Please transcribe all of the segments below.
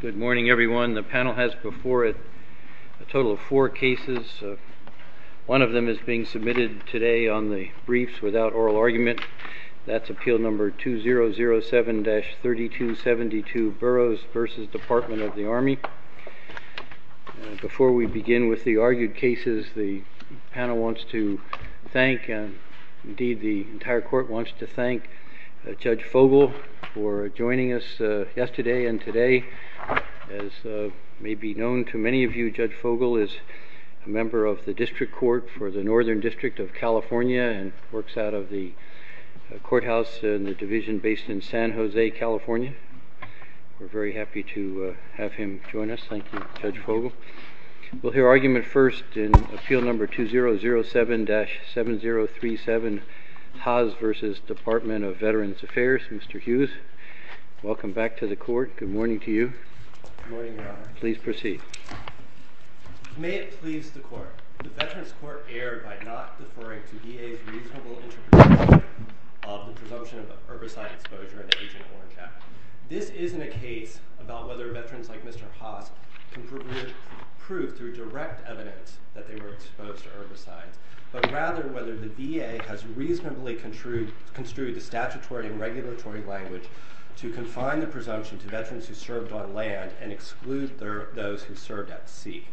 Good morning, everyone. The panel has before it a total of four cases. One of them is being submitted today on the briefs without oral argument. That's Appeal No. 2007-3272, Burroughs v. Department of the Army. Before we begin with the argued cases, the panel wants to recognize today and today, as may be known to many of you, Judge Fogel is a member of the District Court for the Northern District of California and works out of the courthouse in the division based in San Jose, California. We're very happy to have him join us. Thank you, Judge Fogel. We'll hear argument first in Appeal No. 2007-7037, TAAS v. Department of Veterans Affairs, Mr. Hughes. Welcome back to the court. Good morning to you. Good morning, Your Honor. Please proceed. May it please the court, the Veterans Court erred by not deferring to VA's reasonable interpretation of the presumption of herbicide exposure in Agent Horncap. This isn't a case about whether veterans like Mr. Haas can prove through direct evidence that they were exposed to herbicides, but rather whether the VA has reasonably construed the statutory and regulatory language to confine the presumption to veterans who served on land and exclude those who served at sea.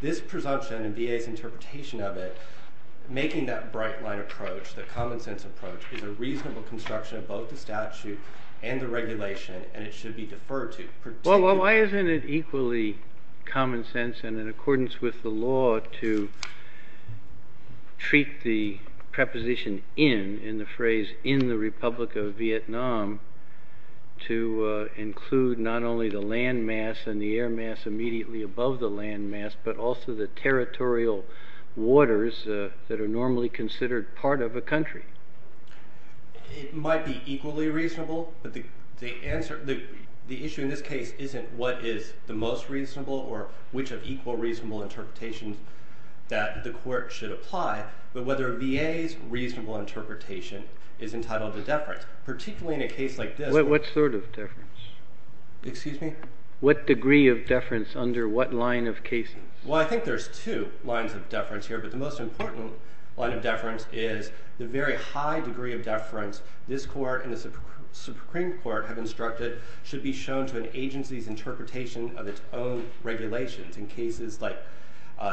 This presumption and VA's interpretation of it, making that bright line approach, the common sense approach, is a reasonable construction of both the statute and the regulation, and it should be deferred to. Well, why isn't it equally common sense, and in accordance with the law, to treat the preposition in, in the phrase, in the Republic of Vietnam, to include not only the land mass and the air mass immediately above the land mass, but also the territorial waters that It might be equally reasonable, but the, the answer, the, the issue in this case isn't what is the most reasonable or which of equal reasonable interpretations that the court should apply, but whether VA's reasonable interpretation is entitled to deference, particularly in a case like this. What, what sort of deference? Excuse me? What degree of deference under what line of cases? Well, I think there's two lines of deference here, but the most important line of deference is the very high degree of deference this court and the Supreme Court have instructed should be shown to an agency's interpretation of its own regulations in cases like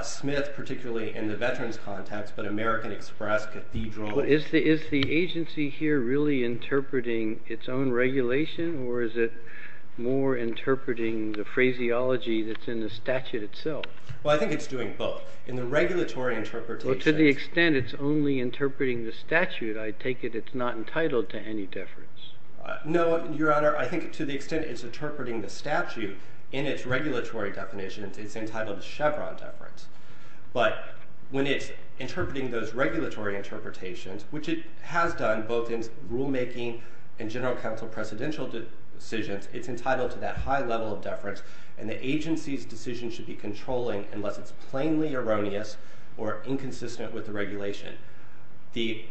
Smith, particularly in the veterans context, but American Express, Cathedral. Well, is the, is the agency here really interpreting its own regulation, or is it more interpreting the phraseology that's in the statute itself? Well, I think it's doing both. In the regulatory interpretation. Well, to the extent it's only interpreting the statute, I take it it's not entitled to any deference. No, Your Honor. I think to the extent it's interpreting the statute in its regulatory definitions, it's entitled to Chevron deference, but when it's interpreting those regulatory interpretations, which it has done both in rulemaking and general counsel presidential decisions, it's entitled to that high level of deference, and the agency's decision should be controlling unless it's plainly erroneous or inconsistent with the regulation. The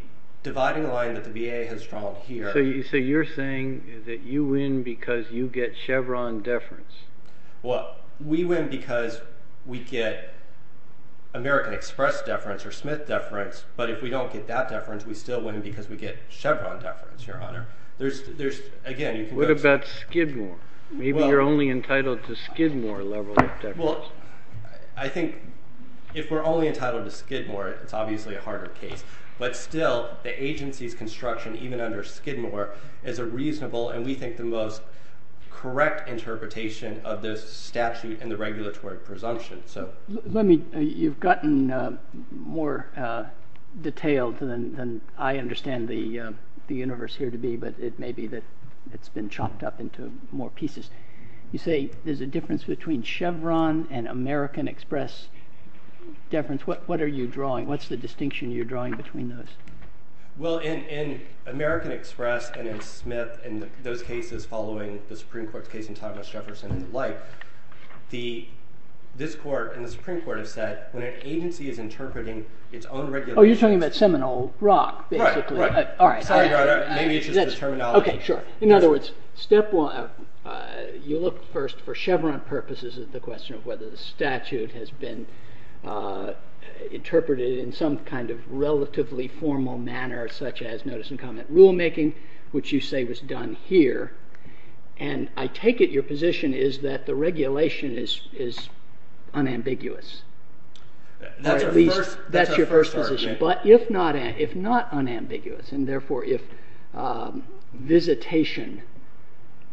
dividing line that the VA has drawn here... So you're saying that you win because you get Chevron deference? Well, we win because we get American Express deference or Smith deference, but if we don't get that deference, we still win because we get Chevron deference, Your Honor. There's, there's, again, you can go... What about Skidmore? Maybe you're only entitled to Skidmore level of deference. Well, I think if we're only entitled to Skidmore, it's obviously a harder case, but still, the agency's construction, even under Skidmore, is a reasonable, and we think the most correct interpretation of this statute and the regulatory presumption, so... Let me, you've gotten more detailed than I understand the universe here to be, but it You say there's a difference between Chevron and American Express deference. What, what are you drawing? What's the distinction you're drawing between those? Well, in, in American Express and in Smith and those cases following the Supreme Court's case in Thomas Jefferson and the like, the, this court and the Supreme Court have said when an agency is interpreting its own regulations... Oh, you're talking about Seminole Rock, basically. Right, right. All right. Sorry, Your Honor. Maybe it's just the terminology. Okay, sure. In other words, step one, you look first for Chevron purposes at the question of whether the statute has been interpreted in some kind of relatively formal manner, such as notice and comment rulemaking, which you say was done here, and I take it your position is that the regulation is, is unambiguous. That's our first argument. But if not, if not unambiguous, and therefore if visitation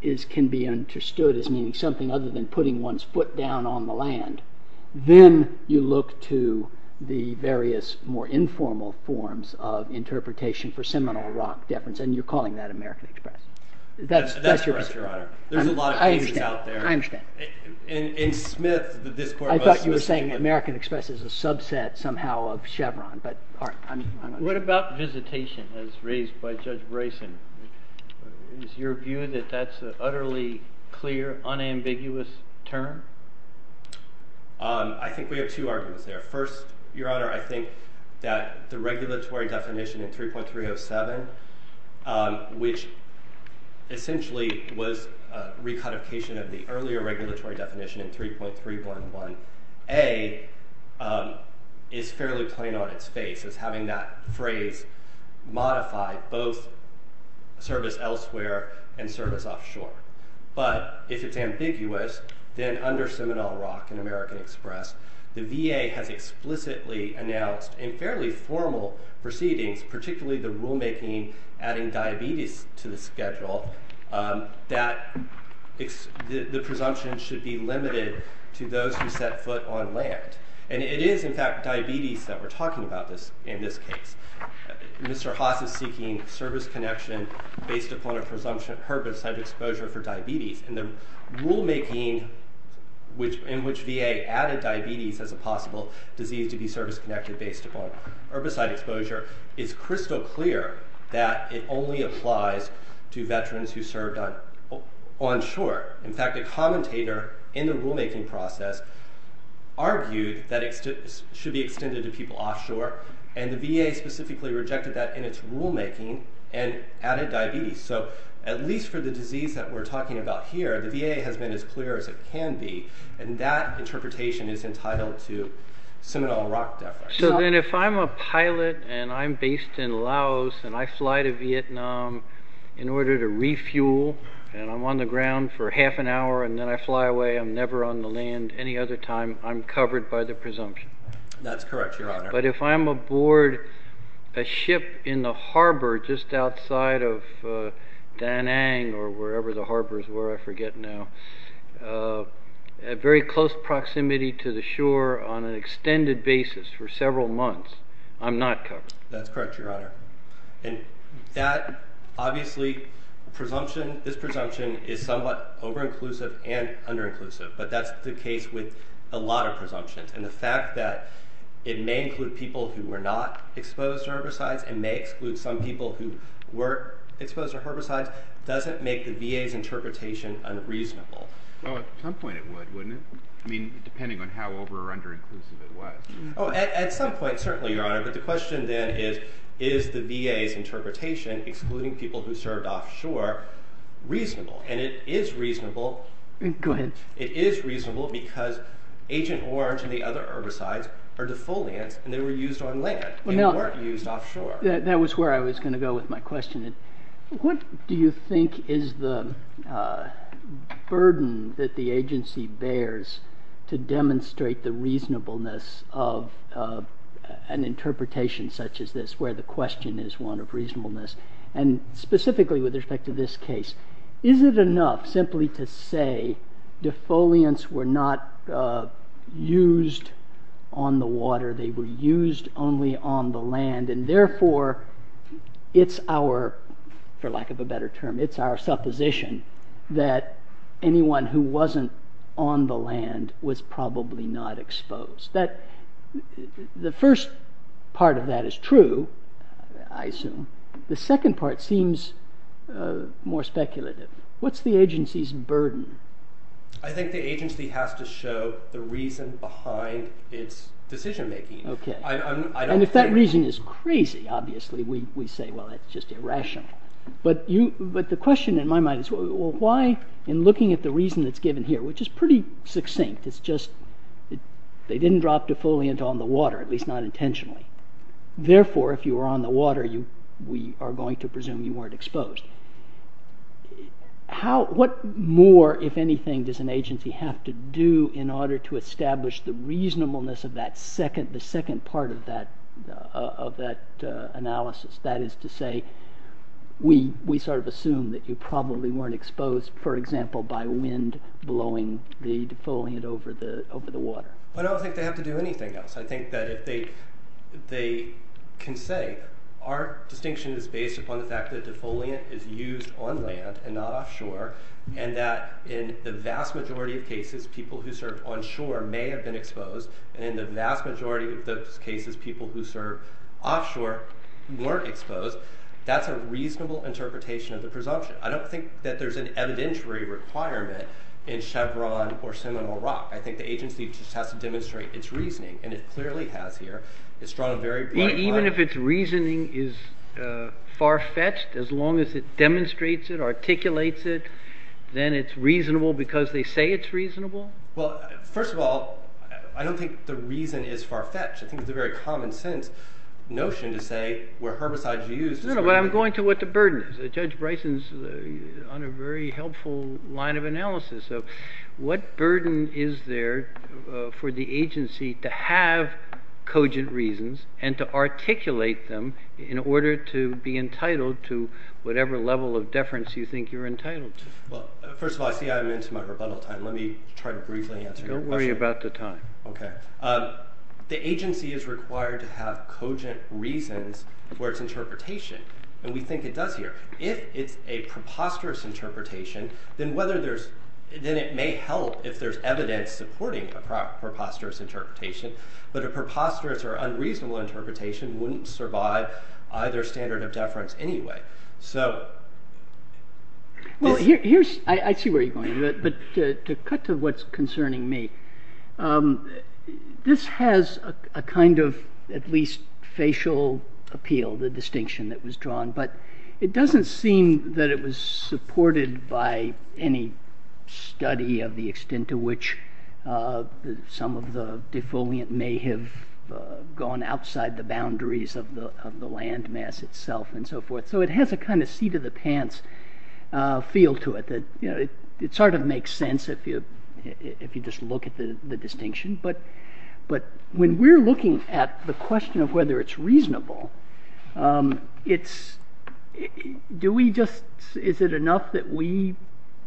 is, can be understood as meaning something other than putting one's foot down on the land, then you look to the various more informal forms of interpretation for Seminole Rock deference, and you're calling that American Express. That's, that's correct, Your Honor. There's a lot of cases out there. I understand, I understand. In, in Smith, this court... I thought you were saying American Express is a subset somehow of Chevron, but I'm, I'm not sure. What about visitation as raised by Judge Brayson? Is your view that that's an utterly clear, unambiguous term? I think we have two arguments there. First, Your Honor, I think that the regulatory definition in 3.307, which essentially was a recodification of the earlier regulatory definition in 3.311A, is fairly plain on its face as having that phrase modified both service elsewhere and service offshore. But if it's ambiguous, then under Seminole Rock and American Express, the VA has explicitly announced in fairly formal proceedings, particularly the rulemaking adding diabetes to the schedule, that the presumption should be limited to those who set foot on land. And it is, in fact, diabetes that we're talking about in this case. Mr. Haas is seeking service connection based upon a presumption of herbicide exposure for diabetes, and the rulemaking in which VA added diabetes as a possible disease to be service connected based upon herbicide exposure is crystal clear that it only applies to veterans who served onshore. In fact, a commentator in the rulemaking process argued that it should be extended to people offshore, and the VA specifically rejected that in its rulemaking and added diabetes. So at least for the disease that we're talking about here, the VA has been as clear as it So then if I'm a pilot, and I'm based in Laos, and I fly to Vietnam in order to refuel, and I'm on the ground for half an hour, and then I fly away, I'm never on the land any other time, I'm covered by the presumption. That's correct, Your Honor. But if I'm aboard a ship in the harbor just outside of Da Nang, or wherever the harbor I'm not covered. That's correct, Your Honor. And that, obviously, presumption, this presumption is somewhat over-inclusive and under-inclusive, but that's the case with a lot of presumptions. And the fact that it may include people who were not exposed to herbicides and may exclude some people who were exposed to herbicides doesn't make the VA's interpretation unreasonable. Well, at some point it would, wouldn't it? I mean, depending on how over- or under-inclusive it was. Oh, at some point, certainly, Your Honor. But the question then is, is the VA's interpretation, excluding people who served offshore, reasonable? And it is reasonable. Go ahead. It is reasonable because Agent Orange and the other herbicides are defoliants, and they were used on land. They weren't used offshore. That was where I was going to go with my question. What do you think is the burden that the agency bears to demonstrate the reasonableness of an interpretation such as this, where the question is one of reasonableness, and specifically with respect to this case? Is it enough simply to say defoliants were not used on the water? They were used only on the land, and therefore it's our, for lack of a better term, it's our supposition that anyone who wasn't on the land was probably not exposed. That, the first part of that is true, I assume. The second part seems more speculative. What's the agency's burden? I think the agency has to show the reason behind its decision-making. Okay. And if that reason is crazy, obviously we say, well, that's just irrational. But the question in my mind is, well, why, in looking at the reason that's given here, which is pretty succinct, it's just they didn't drop defoliant on the water, at least not intentionally. Therefore, if you were on the water, we are going to presume you weren't exposed. What more, if anything, does an agency have to do in order to establish the reasonableness of that second part of that analysis? That is to say, we sort of assume that you probably weren't exposed, for example, by wind blowing the defoliant over the water. I don't think they have to do anything else. I think that if they can say, our distinction is based upon the fact that defoliant is used on land and not offshore, and that in the vast majority of cases, people who served on shore may have been exposed, and in the vast majority of those cases, people who served offshore weren't exposed, that's a reasonable interpretation of the presumption. I don't think that there's an evidentiary requirement in Chevron or Seminole Rock. I think the agency just has to demonstrate its reasoning, and it clearly has here. It's drawn a very broad line. Even if its reasoning is far-fetched, as long as it demonstrates it, articulates it, then it's reasonable because they say it's reasonable? Well, first of all, I don't think the reason is far-fetched. I think it's a very common sense notion to say where herbicides are used. No, no, but I'm going to what the burden is. Judge Bryson's on a very helpful line of analysis. So what burden is there for the agency to have cogent reasons and to articulate them in order to be entitled to whatever level of deference you think you're entitled to? Well, first of all, I see I'm into my rebuttal time. Let me try to briefly answer your question. Don't worry about the time. Okay. The agency is required to have cogent reasons where it's interpretation, and we think it does here. If it's a preposterous interpretation, then it may help if there's evidence supporting a preposterous interpretation, but a preposterous or unreasonable interpretation wouldn't survive either standard of deference anyway. I see where you're going with it, but to cut to what's concerning me, this has a kind of at least facial appeal, the distinction that was drawn, but it doesn't seem that it was supported by any study of the extent to which some of the defoliant may have gone outside the boundaries of the land mass itself and so forth. So it has a kind of seat of the pants feel to it. It sort of makes sense if you just look at the distinction, but when we're looking at the question of whether it's reasonable, is it enough that we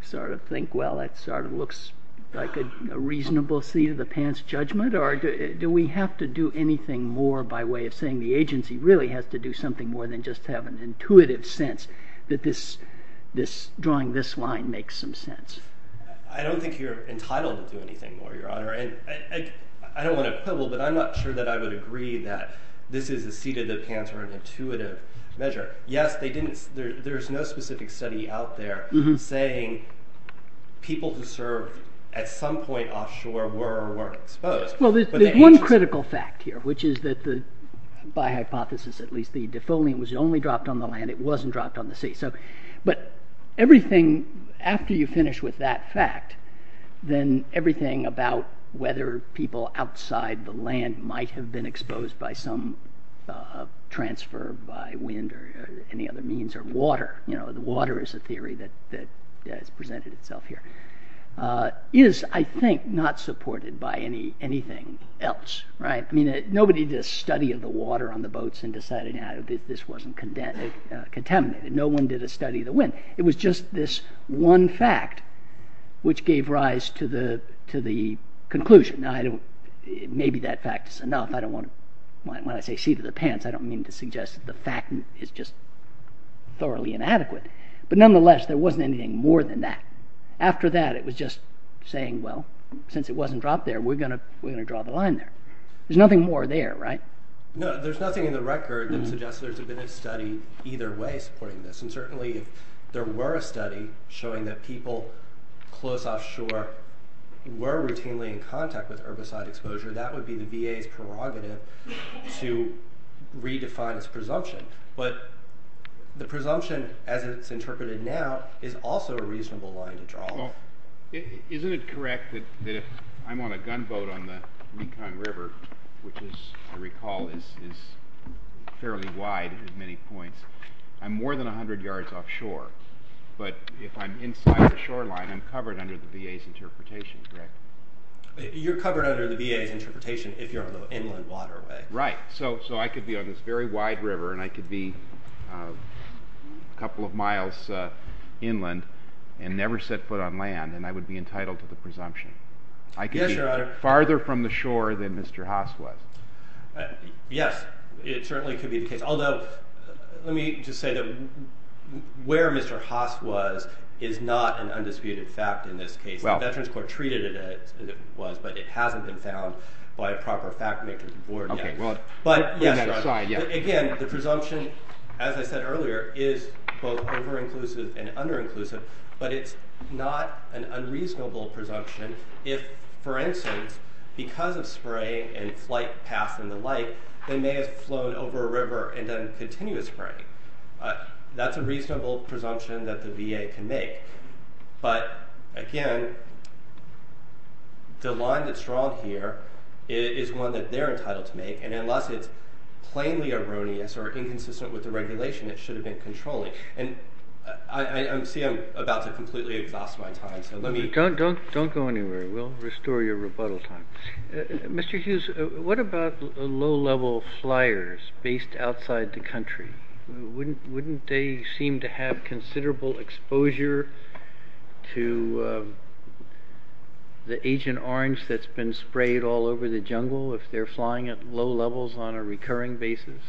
sort of think, well, that sort of looks like a reasonable seat of the pants judgment, or do we have to do anything more by way of saying the agency really has to do something more than just have an intuitive sense that drawing this line makes some sense? I don't think you're entitled to do anything more, Your Honor. I don't want to quibble, but I'm not sure that I would agree that this is a seat of the pants or an intuitive measure. Yes, there's no specific study out there saying people who served at some point offshore were or weren't exposed. Well, there's one critical fact here, which is that, by hypothesis at least, the defoliant was only dropped on the land. It wasn't dropped on the sea. But everything, after you finish with that fact, then everything about whether people outside the land might have been exposed by some transfer by wind or any other means or water, the water is a theory that has presented itself here, is, I think, not supported by anything else. I mean, nobody did a study of the water on the boats and decided that this wasn't contaminated. No one did a study of the wind. It was just this one fact which gave rise to the conclusion. Now, maybe that fact is enough. When I say seat of the pants, I don't mean to suggest that the fact is just thoroughly inadequate. But nonetheless, there wasn't anything more than that. After that, it was just saying, well, since it wasn't dropped there, we're going to draw the line there. There's nothing more there, right? No, there's nothing in the record that suggests there's been a study either way supporting this. And certainly, if there were a study showing that people close offshore were routinely in contact with herbicide exposure, that would be the VA's prerogative to redefine its presumption. But the presumption, as it's interpreted now, is also a reasonable line to draw. Isn't it correct that if I'm on a gunboat on the Mekong River, which as I recall is fairly wide at many points, I'm more than 100 yards offshore. But if I'm inside the shoreline, I'm covered under the VA's interpretation, correct? You're covered under the VA's interpretation if you're on the inland waterway. Right. So I could be on this very wide river and I could be a couple of miles inland and never set foot on land and I would be entitled to the presumption. Yes, Your Honor. I could be farther from the shore than Mr. Haas was. Yes, it certainly could be the case. Although, let me just say that where Mr. Haas was is not an undisputed fact in this case. The Veterans Court treated it as it was, but it hasn't been found by a proper fact-maker to board yet. Okay, well, on that aside, yeah. Again, the presumption, as I said earlier, is both over-inclusive and under-inclusive, but it's not an unreasonable presumption if, for instance, because of spray and flight paths and the like, they may have flown over a river and done continuous spraying. That's a reasonable presumption that the VA can make. But again, the line that's drawn here is one that they're entitled to make, and unless it's plainly erroneous or inconsistent with the regulation, it should have been controlling. And I see I'm about to completely exhaust my time, so let me... Don't go anywhere. We'll restore your rebuttal time. Mr. Hughes, what about low-level flyers based outside the country? Wouldn't they seem to have considerable exposure to the Agent Orange that's been sprayed all over the jungle if they're flying at low levels on a recurring basis?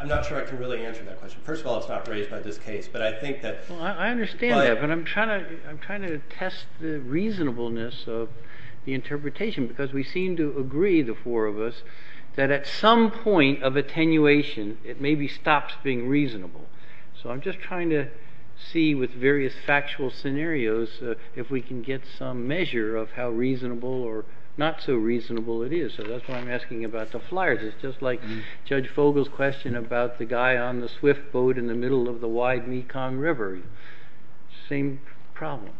I'm not sure I can really answer that question. First of all, it's not raised by this case, but I think that... Well, I understand that, but I'm trying to test the reasonableness of the interpretation, because we seem to agree, the four of us, that at some point of attenuation, it maybe stops being reasonable. So I'm just trying to see with various factual scenarios if we can get some measure of how reasonable or not so reasonable it is. So that's why I'm asking about the flyers. It's just like Judge Fogle's question about the guy on the swift boat in the middle of the wide Mekong River. Same problem.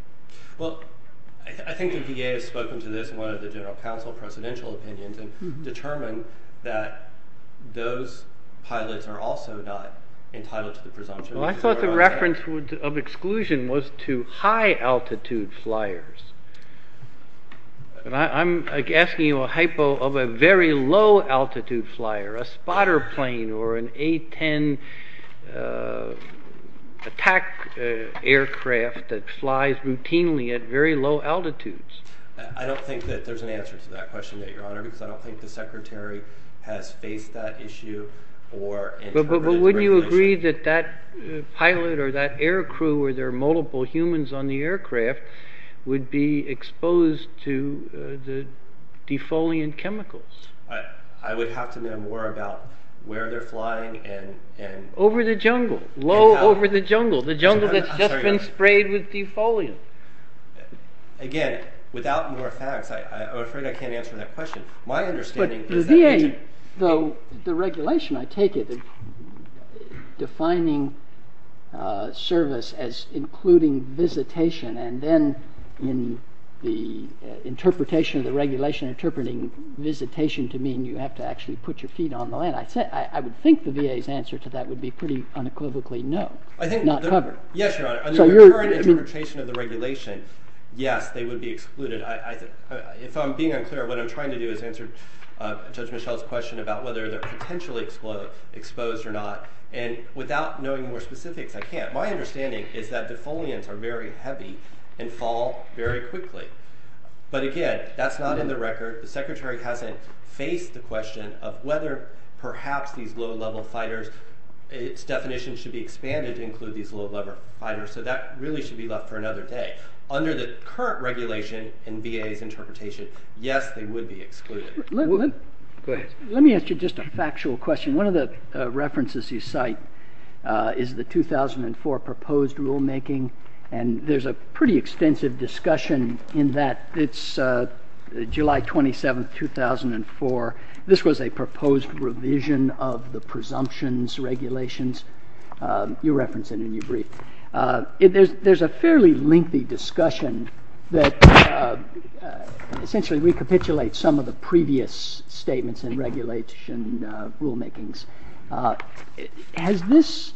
Well, I think the VA has spoken to this in one of the General Counsel presidential opinions and determined that those pilots are also not entitled to the presumption. Well, I thought the reference of exclusion was to high-altitude flyers. I'm asking you a hypo of a very low-altitude flyer, a spotter plane or an A-10 attack aircraft that flies routinely at very low altitudes. I don't think that there's an answer to that question, Your Honor, because I don't think the Secretary has faced that issue. But wouldn't you agree that that pilot or that aircrew or their multiple humans on the aircraft would be exposed to the defoliant chemicals? I would have to know more about where they're flying and... Over the jungle. Low over the jungle. The jungle that's just been sprayed with defoliant. Again, without more facts, I'm afraid I can't answer that question. My understanding is that... But the VA, though the regulation, I take it, defining service as including visitation and then in the interpretation of the regulation interpreting visitation to mean you have to actually put your feet on the land. I would think the VA's answer to that would be pretty unequivocally no, not covered. Yes, Your Honor. Under the current interpretation of the regulation, yes, they would be excluded. If I'm being unclear, what I'm trying to do is answer Judge Michelle's question about whether they're potentially exposed or not. And without knowing more specifics, I can't. My understanding is that defoliants are very heavy and fall very quickly. But again, that's not in the record. The Secretary hasn't faced the question of whether perhaps these low-level fighters, its definition should be expanded to include these low-level fighters. So that really should be left for another day. Under the current regulation in VA's interpretation, yes, they would be excluded. Go ahead. Let me ask you just a factual question. One of the references you cite is the 2004 proposed rulemaking. And there's a pretty extensive discussion in that it's July 27, 2004. This was a proposed revision of the presumptions, regulations. You referenced it in your brief. There's a fairly lengthy discussion that essentially recapitulates some of the previous statements in regulation rulemakings. Has this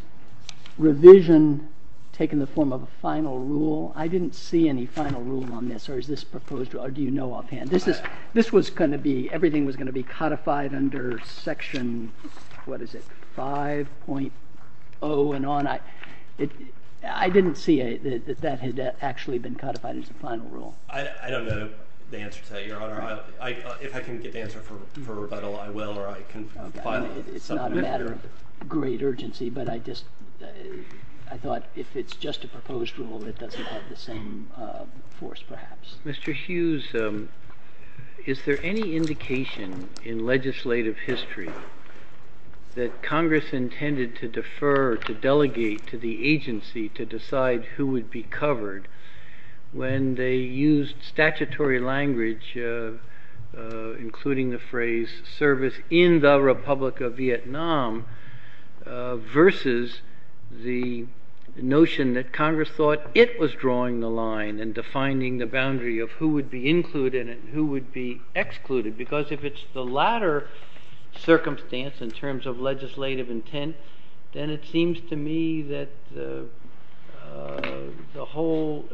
revision taken the form of a final rule? I didn't see any final rule on this. Or is this proposed? Or do you know offhand? Everything was going to be codified under Section 5.0 and on. I didn't see that that had actually been codified as a final rule. I don't know the answer to that, Your Honor. If I can get the answer for rebuttal, I will, or I can file it. It's not a matter of great urgency, but I thought if it's just a proposed rule, it doesn't have the same force perhaps. Mr. Hughes, is there any indication in legislative history that Congress intended to defer or to delegate to the agency to decide who would be covered when they used statutory language, including the phrase service in the Republic of Vietnam, versus the notion that Congress thought it was drawing the line and defining the boundary of who would be included and who would be excluded? Because if it's the latter circumstance in terms of legislative intent, then it seems to me that the whole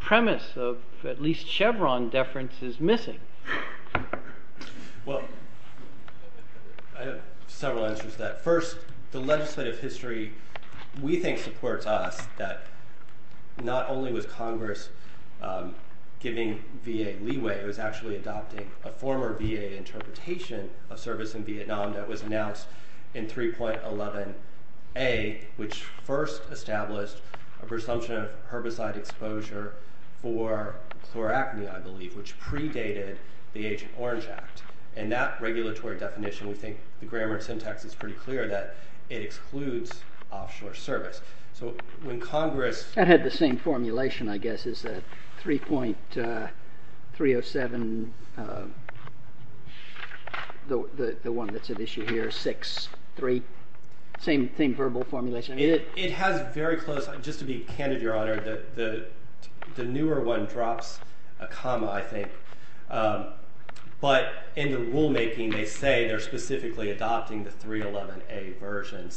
premise of at least Chevron deference is missing. Well, I have several answers to that. First, the legislative history we think supports us that not only was Congress giving VA leeway, it was actually adopting a former VA interpretation of service in Vietnam that was announced in 3.11a, which first established a presumption of herbicide exposure for chloracne, I believe, which predated the Agent Orange Act. In that regulatory definition, we think the grammar syntax is pretty clear that it excludes offshore service. That had the same formulation, I guess. 3.307, the one that's at issue here, 6.3, same verbal formulation. It has very close, just to be candid, Your Honor, the newer one drops a comma, I think. But in the rulemaking, they say they're specifically adopting the 3.11a version.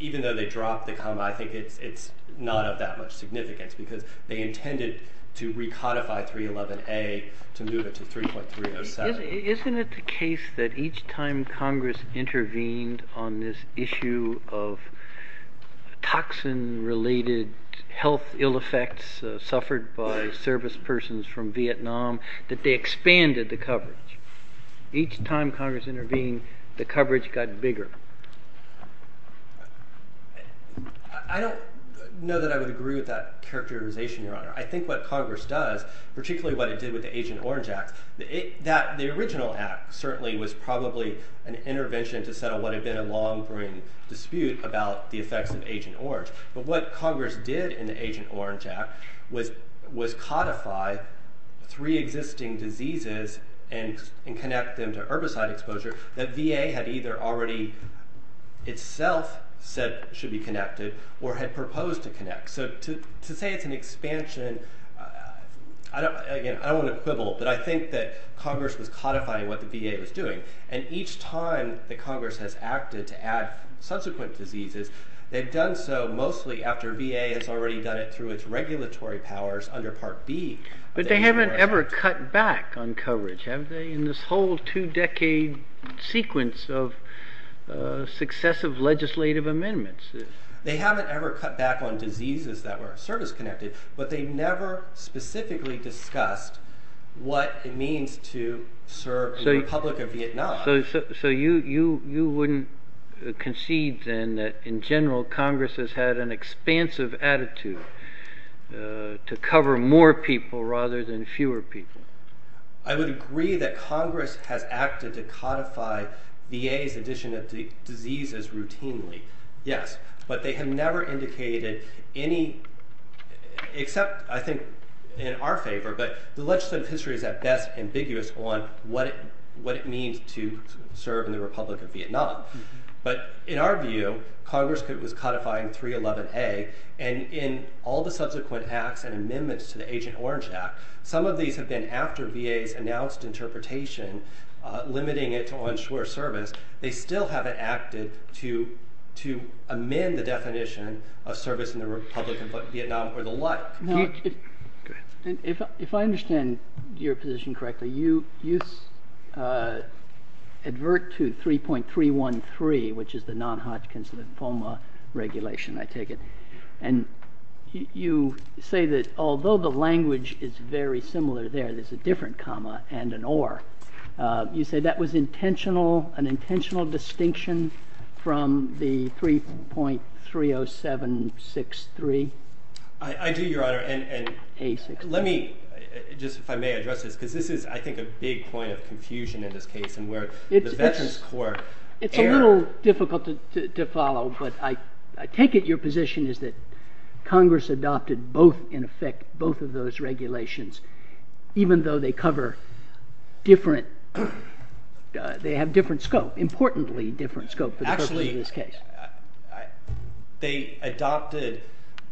Even though they dropped the comma, I think it's not of that much significance because they intended to recodify 3.11a to move it to 3.307. Isn't it the case that each time Congress intervened on this issue of toxin-related health ill effects suffered by service persons from Vietnam, that they expanded the coverage? Each time Congress intervened, the coverage got bigger. I don't know that I would agree with that characterization, Your Honor. I think what Congress does, particularly what it did with the Agent Orange Act, the original act certainly was probably an intervention to settle what had been a long-brewing dispute about the effects of Agent Orange. But what Congress did in the Agent Orange Act was codify three existing diseases and connect them to herbicide exposure that VA had either already itself said should be connected or had proposed to connect. So to say it's an expansion, again, I don't want to quibble, but I think that Congress was codifying what the VA was doing. And each time that Congress has acted to add subsequent diseases, they've done so mostly after VA has already done it through its regulatory powers under Part B. But they haven't ever cut back on coverage, have they, in this whole two-decade sequence of successive legislative amendments? They haven't ever cut back on diseases that were service-connected, but they never specifically discussed what it means to serve the Republic of Vietnam. So you wouldn't concede then that, in general, Congress has had an expansive attitude to cover more people rather than fewer people. I would agree that Congress has acted to codify VA's addition of diseases routinely, yes. But they have never indicated any, except I think in our favor, but the legislative history is at best ambiguous on what it means to serve in the Republic of Vietnam. But in our view, Congress was codifying 311A, and in all the subsequent acts and amendments to the Agent Orange Act, some of these have been after VA's announced interpretation limiting it to onshore service. They still haven't acted to amend the definition of service in the Republic of Vietnam or the like. If I understand your position correctly, you advert to 3.313, which is the non-Hodgkin's lymphoma regulation, I take it, and you say that although the language is very similar there, there's a different comma and an or. You say that was an intentional distinction from the 3.30763? I do, Your Honor, and let me, just if I may address this, because this is, I think, a big point of confusion in this case, It's a little difficult to follow, but I take it your position is that Congress adopted both, in effect, both of those regulations, even though they cover different, they have different scope, importantly different scope for the purpose of this case. Actually, they adopted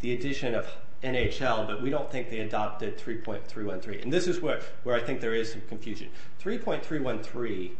the addition of NHL, but we don't think they adopted 3.313, and this is where I think there is some confusion. 3.313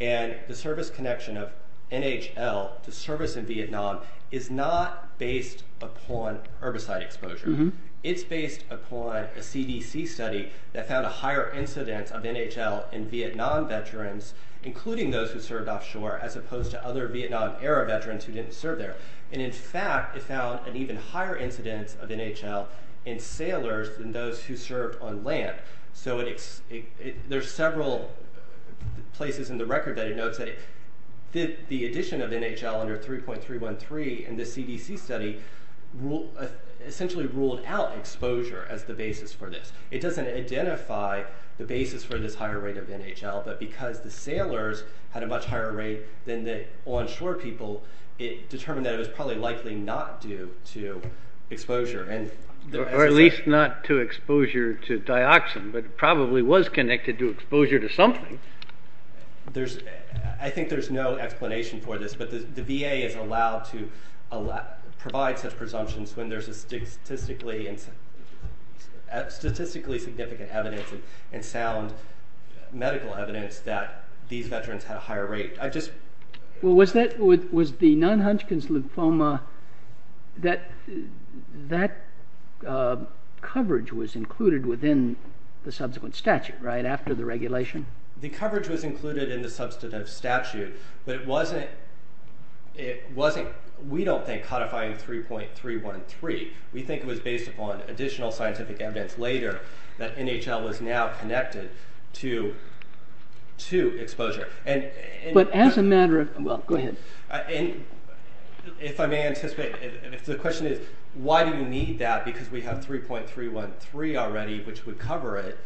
and the service connection of NHL to service in Vietnam is not based upon herbicide exposure. It's based upon a CDC study that found a higher incidence of NHL in Vietnam veterans, including those who served offshore, as opposed to other Vietnam-era veterans who didn't serve there. In fact, it found an even higher incidence of NHL in sailors than those who served on land. So there's several places in the record that it notes that the addition of NHL under 3.313 in the CDC study essentially ruled out exposure as the basis for this. It doesn't identify the basis for this higher rate of NHL, but because the sailors had a much higher rate than the onshore people, it determined that it was probably likely not due to exposure. Or at least not to exposure to dioxin, but probably was connected to exposure to something. I think there's no explanation for this, but the VA is allowed to provide such presumptions when there's statistically significant evidence and sound medical evidence that these veterans had a higher rate. Was the non-Hunchkin's lymphoma coverage included within the subsequent statute after the regulation? The coverage was included in the substantive statute, but we don't think it was codifying 3.313. We think it was based upon additional scientific evidence later that NHL was now connected to exposure. But as a matter of—well, go ahead. If I may anticipate, the question is, why do you need that? Because we have 3.313 already, which would cover it.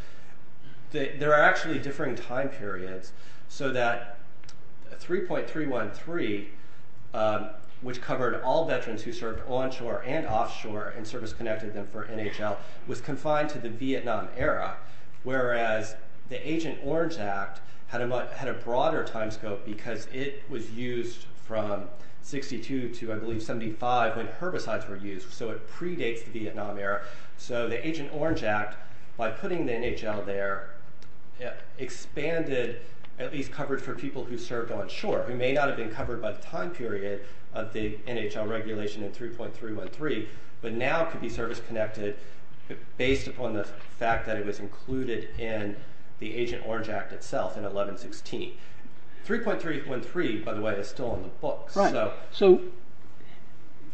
There are actually differing time periods, so that 3.313, which covered all veterans who served onshore and offshore and service-connected them for NHL, was confined to the Vietnam era, whereas the Agent Orange Act had a broader time scope because it was used from 62 to, I believe, 75 when herbicides were used, so it predates the Vietnam era. So the Agent Orange Act, by putting the NHL there, expanded at least coverage for people who served onshore. It may not have been covered by the time period of the NHL regulation in 3.313, but now could be service-connected based upon the fact that it was included in the Agent Orange Act itself in 1116. 3.313, by the way, is still in the books. So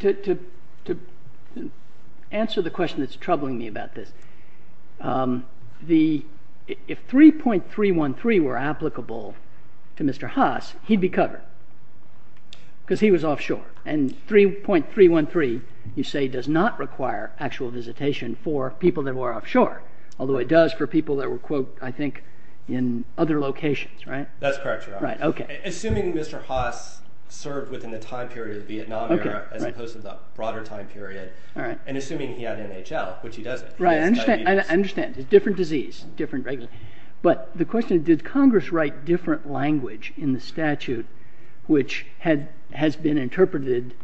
to answer the question that's troubling me about this, if 3.313 were applicable to Mr. Haas, he'd be covered because he was offshore. And 3.313, you say, does not require actual visitation for people that were offshore, although it does for people that were, I think, in other locations, right? That's correct, Your Honor. Right, okay. Assuming Mr. Haas served within the time period of the Vietnam era as opposed to the broader time period, and assuming he had NHL, which he doesn't. Right, I understand. It's a different disease, different regulation. But the question is, did Congress write different language in the statute which has been interpreted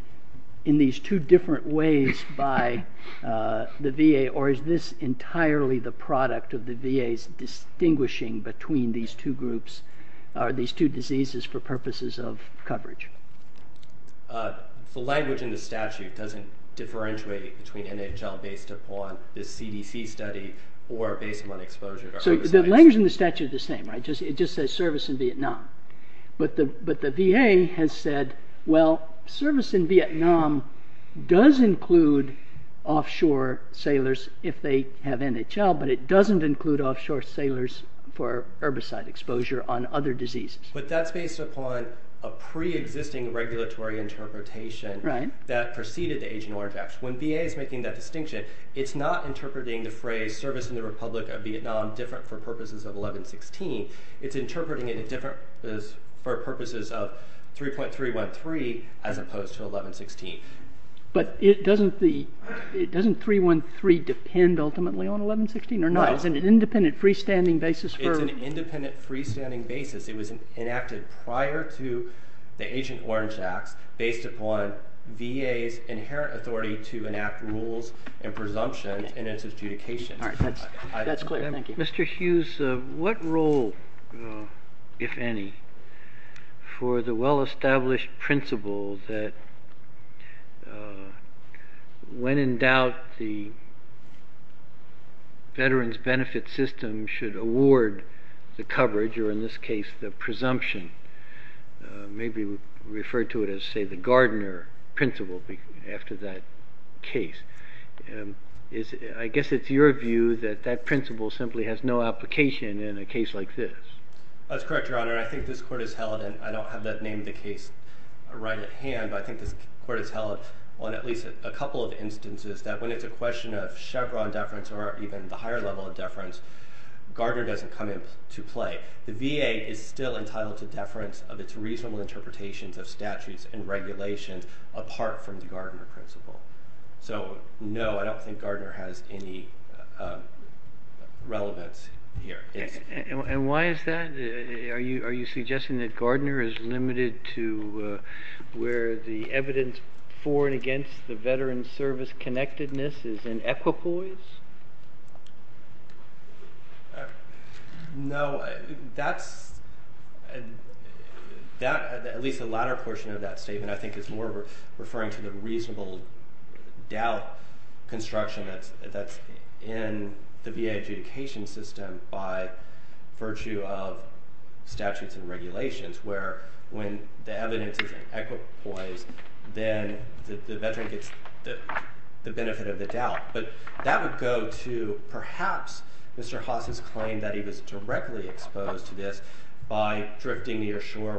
in these two different ways by the VA, or is this entirely the product of the VA's distinguishing between these two groups, these two diseases, for purposes of coverage? The language in the statute doesn't differentiate between NHL based upon this CDC study or based upon exposure. So the language in the statute is the same, right? It just says service in Vietnam. But the VA has said, well, service in Vietnam does include offshore sailors if they have NHL, but it doesn't include offshore sailors for herbicide exposure on other diseases. But that's based upon a pre-existing regulatory interpretation that preceded the Agent Orange Act. When VA is making that distinction, it's not interpreting the phrase service in the Republic of Vietnam different for purposes of 1116. It's interpreting it for purposes of 3.313 as opposed to 1116. But doesn't 3.313 depend ultimately on 1116 or not? It's an independent freestanding basis. It's an independent freestanding basis. It was enacted prior to the Agent Orange Act based upon VA's inherent authority to enact rules and presumptions in its adjudication. All right, that's clear. Thank you. Mr. Hughes, what role, if any, for the well-established principle that when in doubt the Veterans Benefit System should award the coverage or in this case the presumption, maybe refer to it as, say, the Gardner principle after that case? I guess it's your view that that principle simply has no application in a case like this. That's correct, Your Honor. I think this Court has held, and I don't have the name of the case right at hand, but I think this Court has held on at least a couple of instances that when it's a question of Chevron deference or even the higher level of deference, Gardner doesn't come into play. The VA is still entitled to deference of its reasonable interpretations of statutes and regulations apart from the Gardner principle. So, no, I don't think Gardner has any relevance here. And why is that? Are you suggesting that Gardner is limited to where the evidence for and against the Veterans Service connectedness is in equipoise? No, that's at least the latter portion of that statement. I think it's more referring to the reasonable doubt construction that's in the VA adjudication system by virtue of statutes and regulations where when the evidence is in equipoise, then the Veteran gets the benefit of the doubt. But that would go to perhaps Mr. Haas's claim that he was directly exposed to this by drifting near shore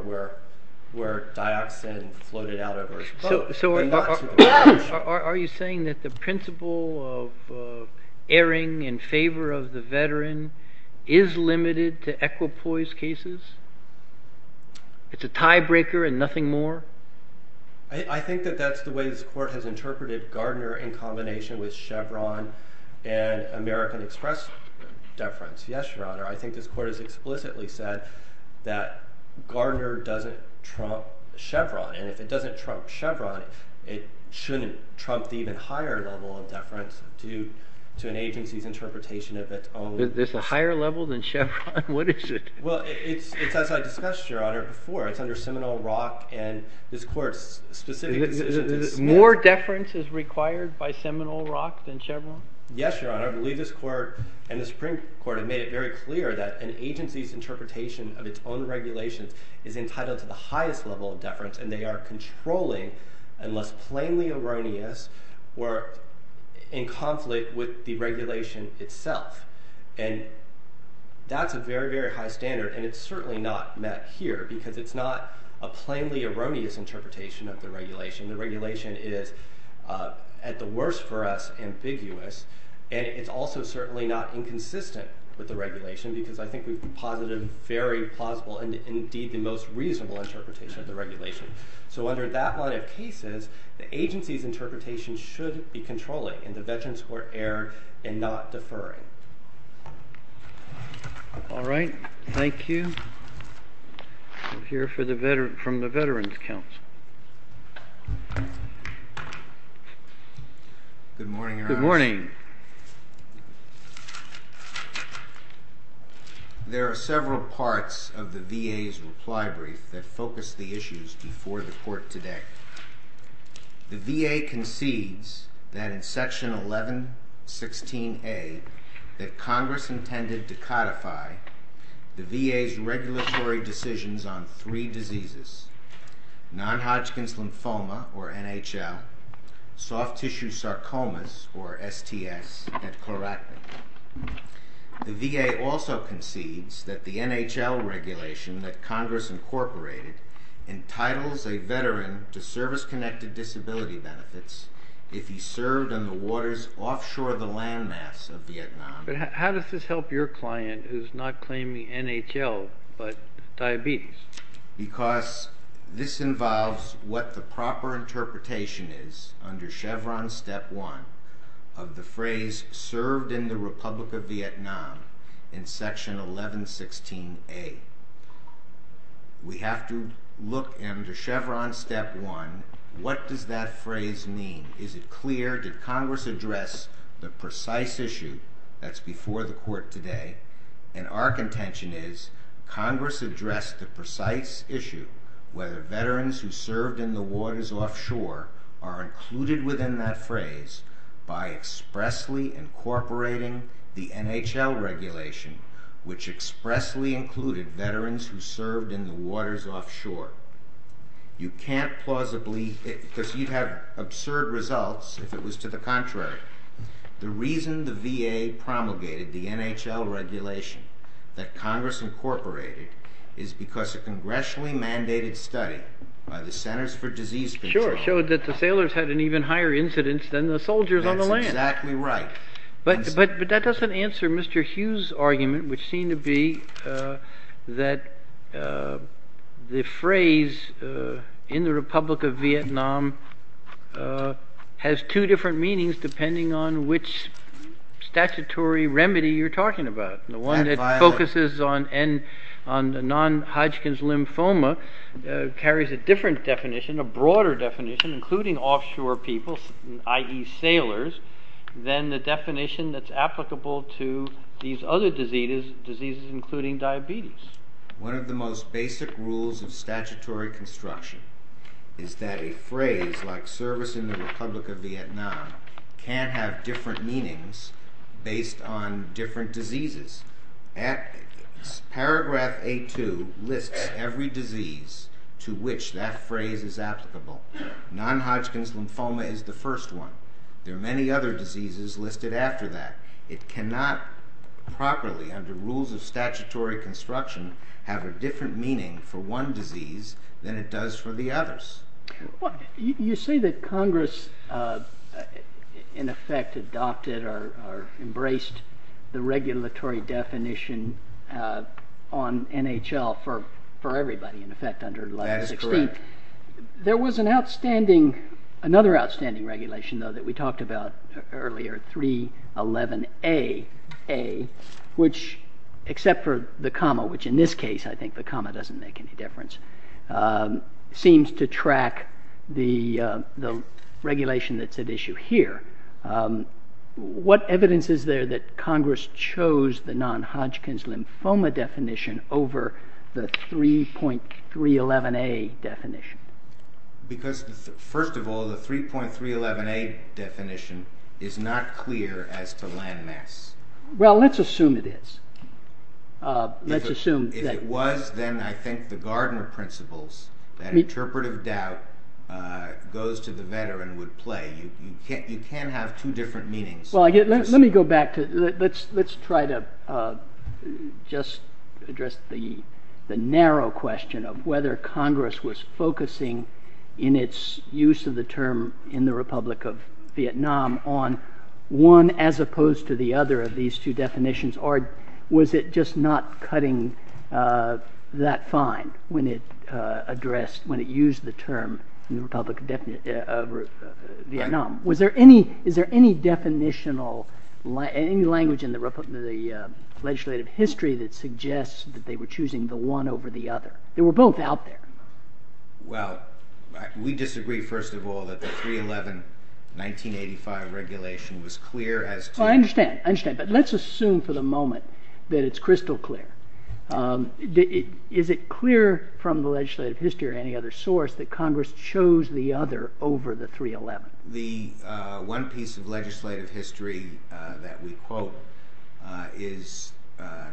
where dioxin floated out of his boat. So are you saying that the principle of erring in favor of the Veteran is limited to equipoise cases? It's a tiebreaker and nothing more? I think that that's the way this Court has interpreted Gardner in combination with Chevron and American Express deference. Yes, Your Honor. I think this Court has explicitly said that Gardner doesn't trump Chevron. And if it doesn't trump Chevron, it shouldn't trump the even higher level of deference due to an agency's interpretation of its own. There's a higher level than Chevron? What is it? Well, it's as I discussed, Your Honor, before. It's under Seminole Rock, and this Court's specific decision says that. More deference is required by Seminole Rock than Chevron? Yes, Your Honor. I believe this Court and the Supreme Court have made it very clear that an agency's interpretation of its own regulations is entitled to the highest level of deference, and they are controlling unless plainly erroneous or in conflict with the regulation itself. And that's a very, very high standard, and it's certainly not met here because it's not a plainly erroneous interpretation of the regulation. The regulation is, at the worst for us, ambiguous, and it's also certainly not inconsistent with the regulation because I think we've posited a very plausible and indeed the most reasonable interpretation of the regulation. So under that line of cases, the agency's interpretation should be controlling, and the Veterans Court erred in not deferring. All right, thank you. We'll hear from the Veterans Counsel. Good morning, Your Honor. Good morning. There are several parts of the VA's reply brief that focus the issues before the Court today. The VA concedes that in Section 1116A, that Congress intended to codify the VA's regulatory decisions on three diseases, non-Hodgkin's lymphoma, or NHL, soft-tissue sarcomas, or STS, and chloractin. The VA also concedes that the NHL regulation that Congress incorporated entitles a Veteran to service-connected disability benefits if he served on the waters offshore the landmass of Vietnam. But how does this help your client who's not claiming NHL but diabetes? Because this involves what the proper interpretation is under Chevron Step 1 of the phrase served in the Republic of Vietnam in Section 1116A. We have to look under Chevron Step 1. What does that phrase mean? Is it clear? Did Congress address the precise issue that's before the Court today? Our contention is Congress addressed the precise issue whether Veterans who served in the waters offshore are included within that phrase by expressly incorporating the NHL regulation, which expressly included Veterans who served in the waters offshore. You can't plausibly, because you'd have absurd results if it was to the contrary. The reason the VA promulgated the NHL regulation that Congress incorporated is because a congressionally mandated study by the Centers for Disease Control showed that the sailors had an even higher incidence than the soldiers on the land. That's exactly right. But that doesn't answer Mr. Hughes' argument, which seemed to be that the phrase in the Republic of Vietnam has two different meanings depending on which statutory remedy you're talking about. The one that focuses on non-Hodgkin's lymphoma carries a different definition, a broader definition, including offshore people, i.e. sailors, than the definition that's applicable to these other diseases, including diabetes. One of the most basic rules of statutory construction is that a phrase like service in the Republic of Vietnam can have different meanings based on different diseases. Paragraph 8-2 lists every disease to which that phrase is applicable. Non-Hodgkin's lymphoma is the first one. There are many other diseases listed after that. It cannot properly, under rules of statutory construction, have a different meaning for one disease than it does for the others. You say that Congress in effect adopted or embraced the regulatory definition on NHL That is correct. There was another outstanding regulation though that we talked about earlier, 3.11a, which except for the comma, which in this case I think the comma doesn't make any difference, seems to track the regulation that's at issue here. What evidence is there that Congress chose the non-Hodgkin's lymphoma definition over the 3.311a definition? Because first of all, the 3.311a definition is not clear as to land mass. Well, let's assume it is. If it was, then I think the Gardner principles, that interpretive doubt goes to the veteran would play. You can't have two different meanings. Let me go back. Let's try to just address the narrow question of whether Congress was focusing in its use of the term in the Republic of Vietnam on one as opposed to the other of these two definitions or was it just not cutting that fine when it used the term in the Republic of Vietnam? Was there any, is there any definitional, any language in the legislative history that suggests that they were choosing the one over the other? They were both out there. Well, we disagree first of all that the 3.311, 1985 regulation was clear as to... I understand, I understand, but let's assume for the moment that it's crystal clear. Is it clear from the legislative history or any other source that Congress chose the other over the 3.311? The one piece of legislative history that we quote is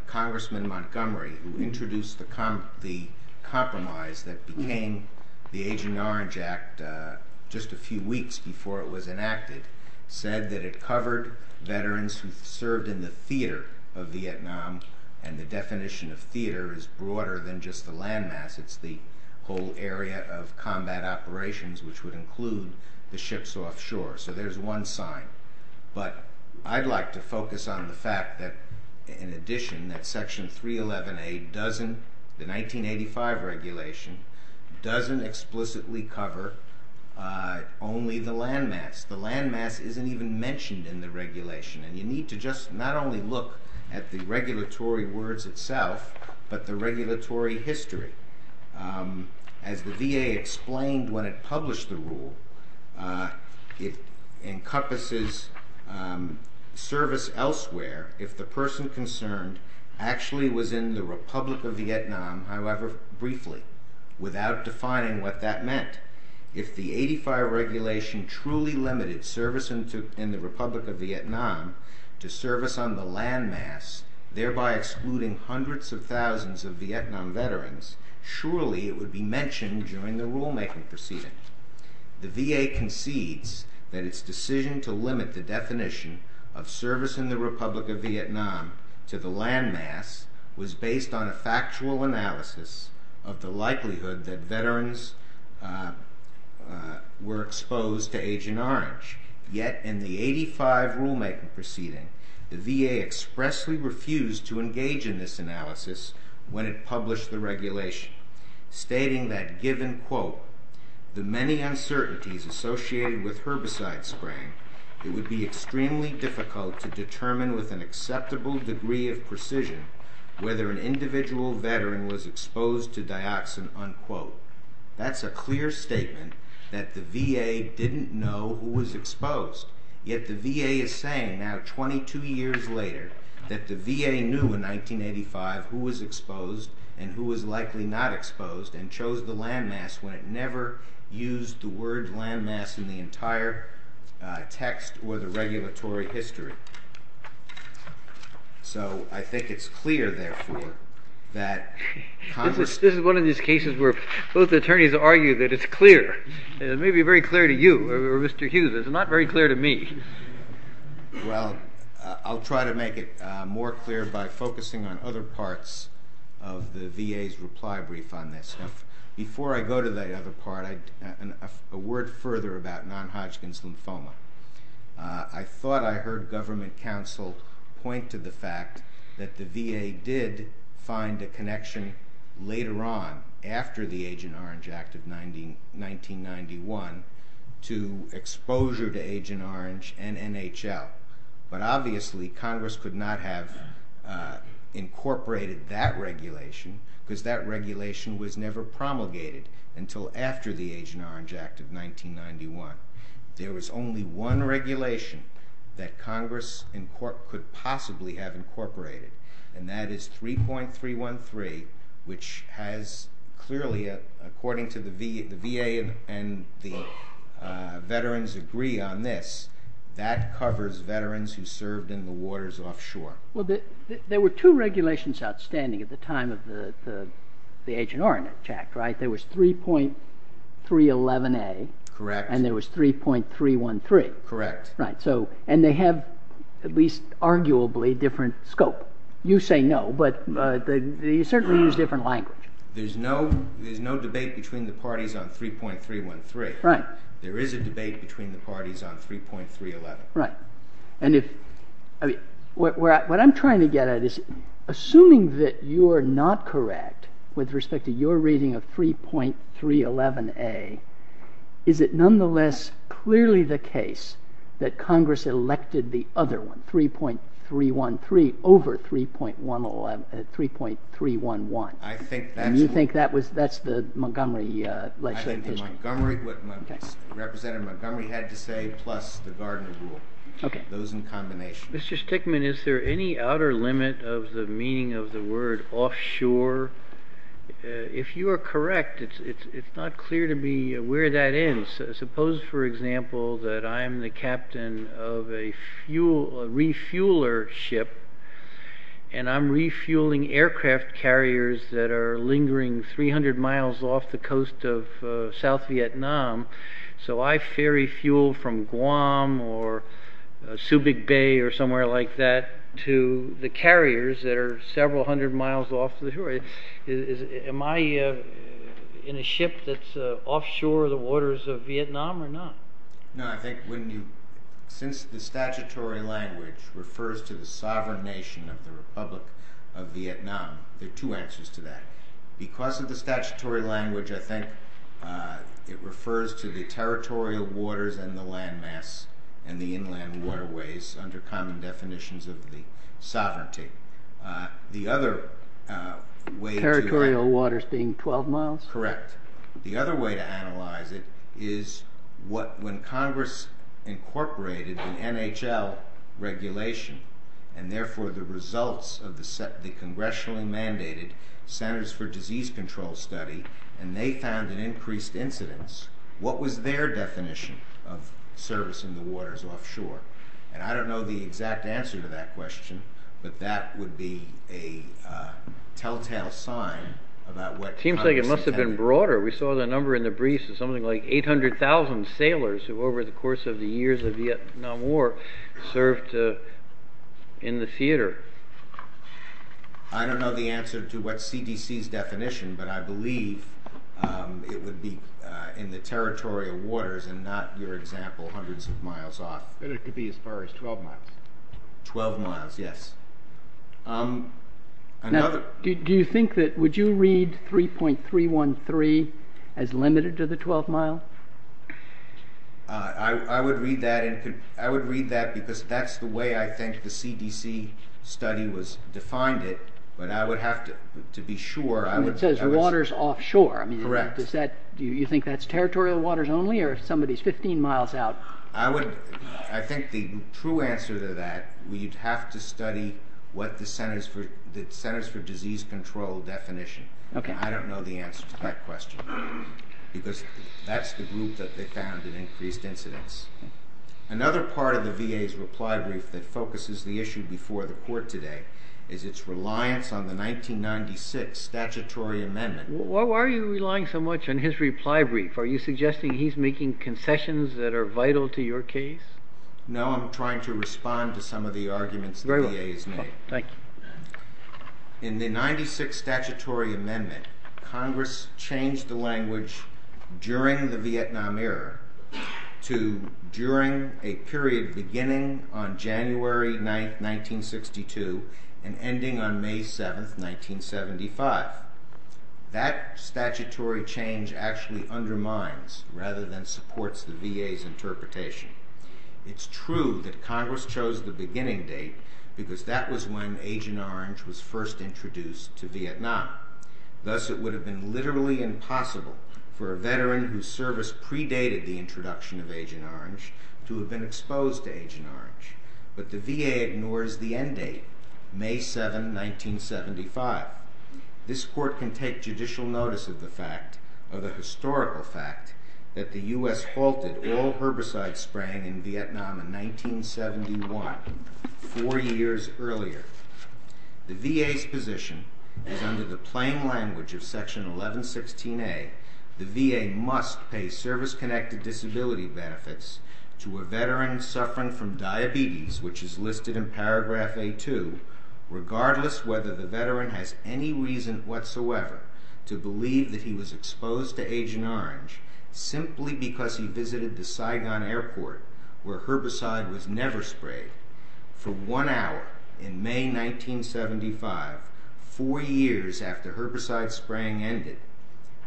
Congressman Montgomery who introduced the compromise that became the Aging Orange Act just a few weeks before it was enacted, said that it covered veterans who served in the theater of Vietnam and the definition of theater is broader than just the land mass. It's the whole area of combat operations which would include the ships offshore. So there's one sign. But I'd like to focus on the fact that in addition that Section 311A doesn't, the 1985 regulation, doesn't explicitly cover only the land mass. The land mass isn't even mentioned in the regulation and you need to just not only look at the regulatory words itself but the regulatory history. As the VA explained when it published the rule, it encompasses service elsewhere if the person concerned actually was in the Republic of Vietnam, however briefly, without defining what that meant. If the 1985 regulation truly limited service in the Republic of Vietnam to service on the land mass, thereby excluding hundreds of thousands of Vietnam veterans, surely it would be mentioned during the rulemaking proceeding. The VA concedes that its decision to limit the definition of service in the Republic of Vietnam to the land mass was based on a factual analysis of the likelihood that veterans were exposed to Agent Orange. Yet in the 1985 rulemaking proceeding, the VA expressly refused to engage in this analysis when it published the regulation, stating that given, quote, the many uncertainties associated with herbicide spraying, it would be extremely difficult to determine with an acceptable degree of precision whether an individual veteran was exposed to dioxin, unquote. That's a clear statement that the VA didn't know who was exposed. Yet the VA is saying now 22 years later that the VA knew in 1985 who was exposed and who was likely not exposed and chose the land mass when it never used the word land mass in the entire text or the regulatory history. So I think it's clear, therefore, that Congress... This is one of these cases where both attorneys argue that it's clear. It may be very clear to you or Mr. Hughes. It's not very clear to me. Well, I'll try to make it more clear by focusing on other parts of the VA's reply brief on this. Before I go to the other part, a word further about non-Hodgkin's lymphoma. I thought I heard Government Counsel point to the fact that the VA did find a connection later on after the Agent Orange Act of 1991 to exposure to Agent Orange and NHL. But obviously, Congress could not have incorporated that regulation because that regulation was never promulgated until after the Agent Orange Act of 1991. There was only one regulation that Congress could possibly have incorporated and that is 3.313 which has clearly, according to the VA and the veterans agree on this, that covers veterans who served in the waters offshore. Well, there were two regulations outstanding at the time of the Agent Orange Act, right? There was 3.311A Correct. And there was 3.313. Correct. And they have at least arguably different scope. You say no, but they certainly use different language. There's no debate between the parties on 3.313. There is a debate between the parties on 3.311. And if, what I'm trying to get at is assuming that you are not correct with respect to your reading of 3.311A, is it nonetheless clearly the case that Congress elected the other one, 3.313 over 3.311? You think that's the Montgomery legislation? I think the Montgomery, what Representative Montgomery had to say, plus the Gardner rule. Those in combination. Mr. Stickman, is there any outer limit of the meaning of the word offshore? If you are correct, it's not clear to me where that is. Suppose, for example, that I'm the captain of a refueler ship, and I'm refueling aircraft carriers that are lingering 300 miles off the coast of South Vietnam. So I ferry fuel from Guam or Subic Bay or somewhere like that to the carriers that are several hundred miles off the shore. Am I in a ship that's offshore the waters of Vietnam or not? Since the statutory language refers to the territorial waters of Vietnam, there are two answers to that. Because of the statutory language, I think it refers to the territorial waters and the landmass and the inland waterways under common definitions of the sovereignty. The other way to... Territorial waters being 12 miles? Correct. The other way to analyze it is when Congress incorporated an NHL regulation and therefore the results of the congressionally mandated Centers for Disease Control study, and they found an increased incidence, what was their definition of servicing the waters offshore? And I don't know the exact answer to that question, but that would be a telltale sign about what Congress intended. Seems like it must have been broader. We saw the number in the briefs of something like 800,000 sailors who over the course of the years of Vietnam War served in the theater. I don't know the answer to what CDC's definition, but I believe it would be in the territorial waters and not, your example, hundreds of miles off. But it could be as far as 12 miles. 12 miles, yes. Do you think that, would you read 3.313 as limited to the 12 miles? I would read that because that's the way I think the CDC study defined it, but I would have to be sure. It says waters offshore. Correct. Do you think that's territorial waters only or somebody's 15 miles out? I think the true answer to that, we'd have to study what the Centers for Disease Control definition. I don't know the answer to that question. Because that's the group that found an increased incidence. Another part of the VA's reply brief that focuses the issue before the court today is its reliance on the 1996 statutory amendment. Why are you relying so much on his reply brief? Are you suggesting he's making concessions that are vital to your case? No, I'm trying to respond to some of the arguments the VA's made. In the 96 statutory amendment, Congress changed the language during the Vietnam era to during a period beginning on January 9, 1962 and ending on May 7, 1975. That statutory change actually undermines rather than supports the VA's interpretation. It's true that Congress chose the beginning date because that was when Agent Orange was first introduced to Vietnam. Thus it would have been literally impossible for a veteran whose service predated the introduction of Agent Orange to have been exposed to Agent Orange. But the VA ignores the end date, May 7, 1975. This court can take judicial notice of the fact, of the historical fact, that the US halted all herbicide spraying in Vietnam in 1971, four years earlier. The VA's position is that under the plain language of Section 1116A, the VA must pay service-connected disability benefits to a veteran suffering from diabetes, which is listed in Paragraph A2, regardless whether the veteran has any reason whatsoever to believe that he was exposed to Agent Orange simply because he visited the Saigon Airport where herbicide was never sprayed. For one hour in May 1975, four years after herbicide spraying ended,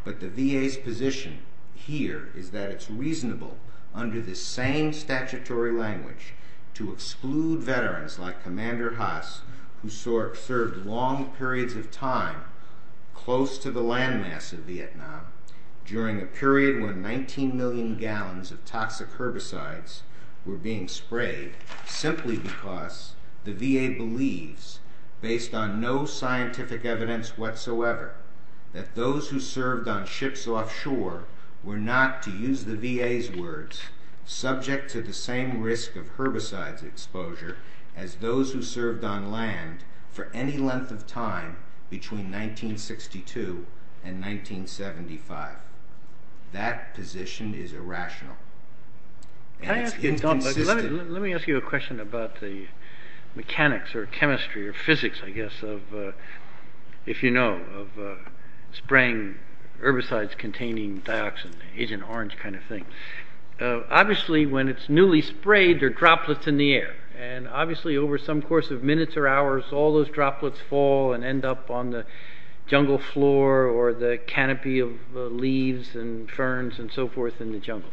but the VA's position here is that it's reasonable under this same statutory language to exclude veterans like Commander Haas, who served long periods of time close to the landmass of Vietnam during a period when 19 million gallons of toxic herbicides were being sprayed simply because the VA believes, based on no scientific evidence whatsoever, that those who served on ships offshore were not, to use the VA's words, subject to the same risk of herbicides exposure as those who served on land for any length of time between 1962 and 1975. That position is irrational. And it's inconsistent. Let me ask you a question about the mechanics or chemistry or physics, I guess, of if you know, of spraying herbicides containing dioxin, Agent Orange kind of thing. Obviously when it's newly sprayed, there are droplets in the air. And obviously over some course of minutes or hours, all those droplets fall and end up on the jungle floor or the canopy of leaves and ferns and so forth in the jungle.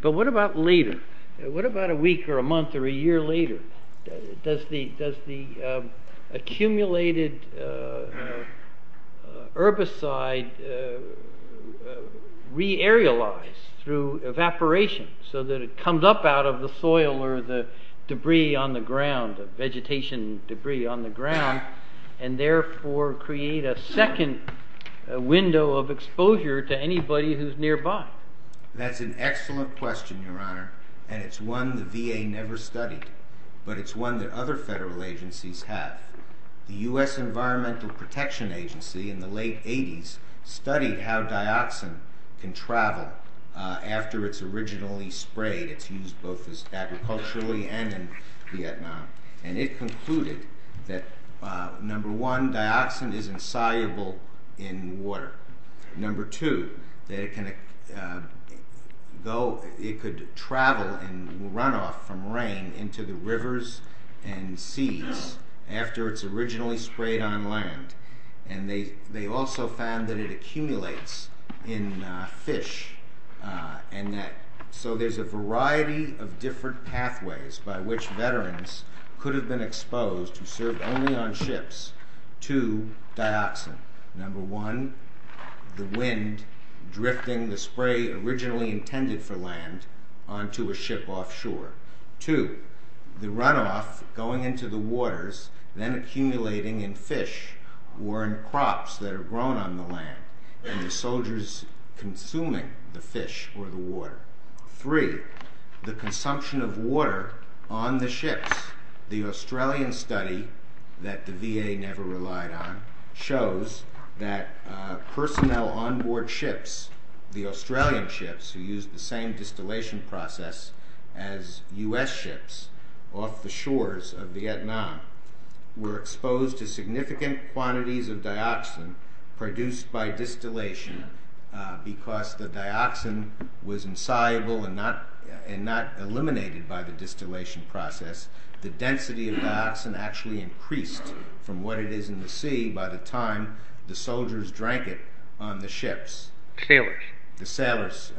But what about later? What about a week or a month or a year later? Does the accumulated herbicide re-aerialize through evaporation so that it comes up out of the soil or the debris on the ground, vegetation debris on the ground and therefore create a second window of exposure to anybody who's nearby? That's an excellent question, Your Honor. And it's one the VA never studied. But it's one that other federal agencies have. The U.S. Environmental Protection Agency in the late 80s studied how dioxin can travel after it's originally sprayed. It's used both as agriculturally and in Vietnam. And it concluded that number one, dioxin is insoluble in water. Number two, that it can go, it could travel and run off from rain into the rivers and seas after it's originally sprayed on land. And they also found that it accumulates in fish. And that, so there's a variety of different pathways by which veterans could have been exposed to serve only on ships to dioxin. Number one, the wind drifting the spray originally intended for land onto a ship offshore. Two, the runoff going into the waters, then accumulating in fish or in crops that are grown on the land. And the soldiers consuming the fish or the water. Three, the consumption of water on the ships. The Australian study that the VA never relied on shows that personnel onboard ships, the Australian ships who used the same distillation process as U.S. ships off the shores of Vietnam were exposed to significant quantities of dioxin produced by distillation because the dioxin was insoluble and not eliminated by the distillation process. The density of dioxin actually increased from what it is in the sea by the time the soldiers drank it on the ships. Sailors. The sailors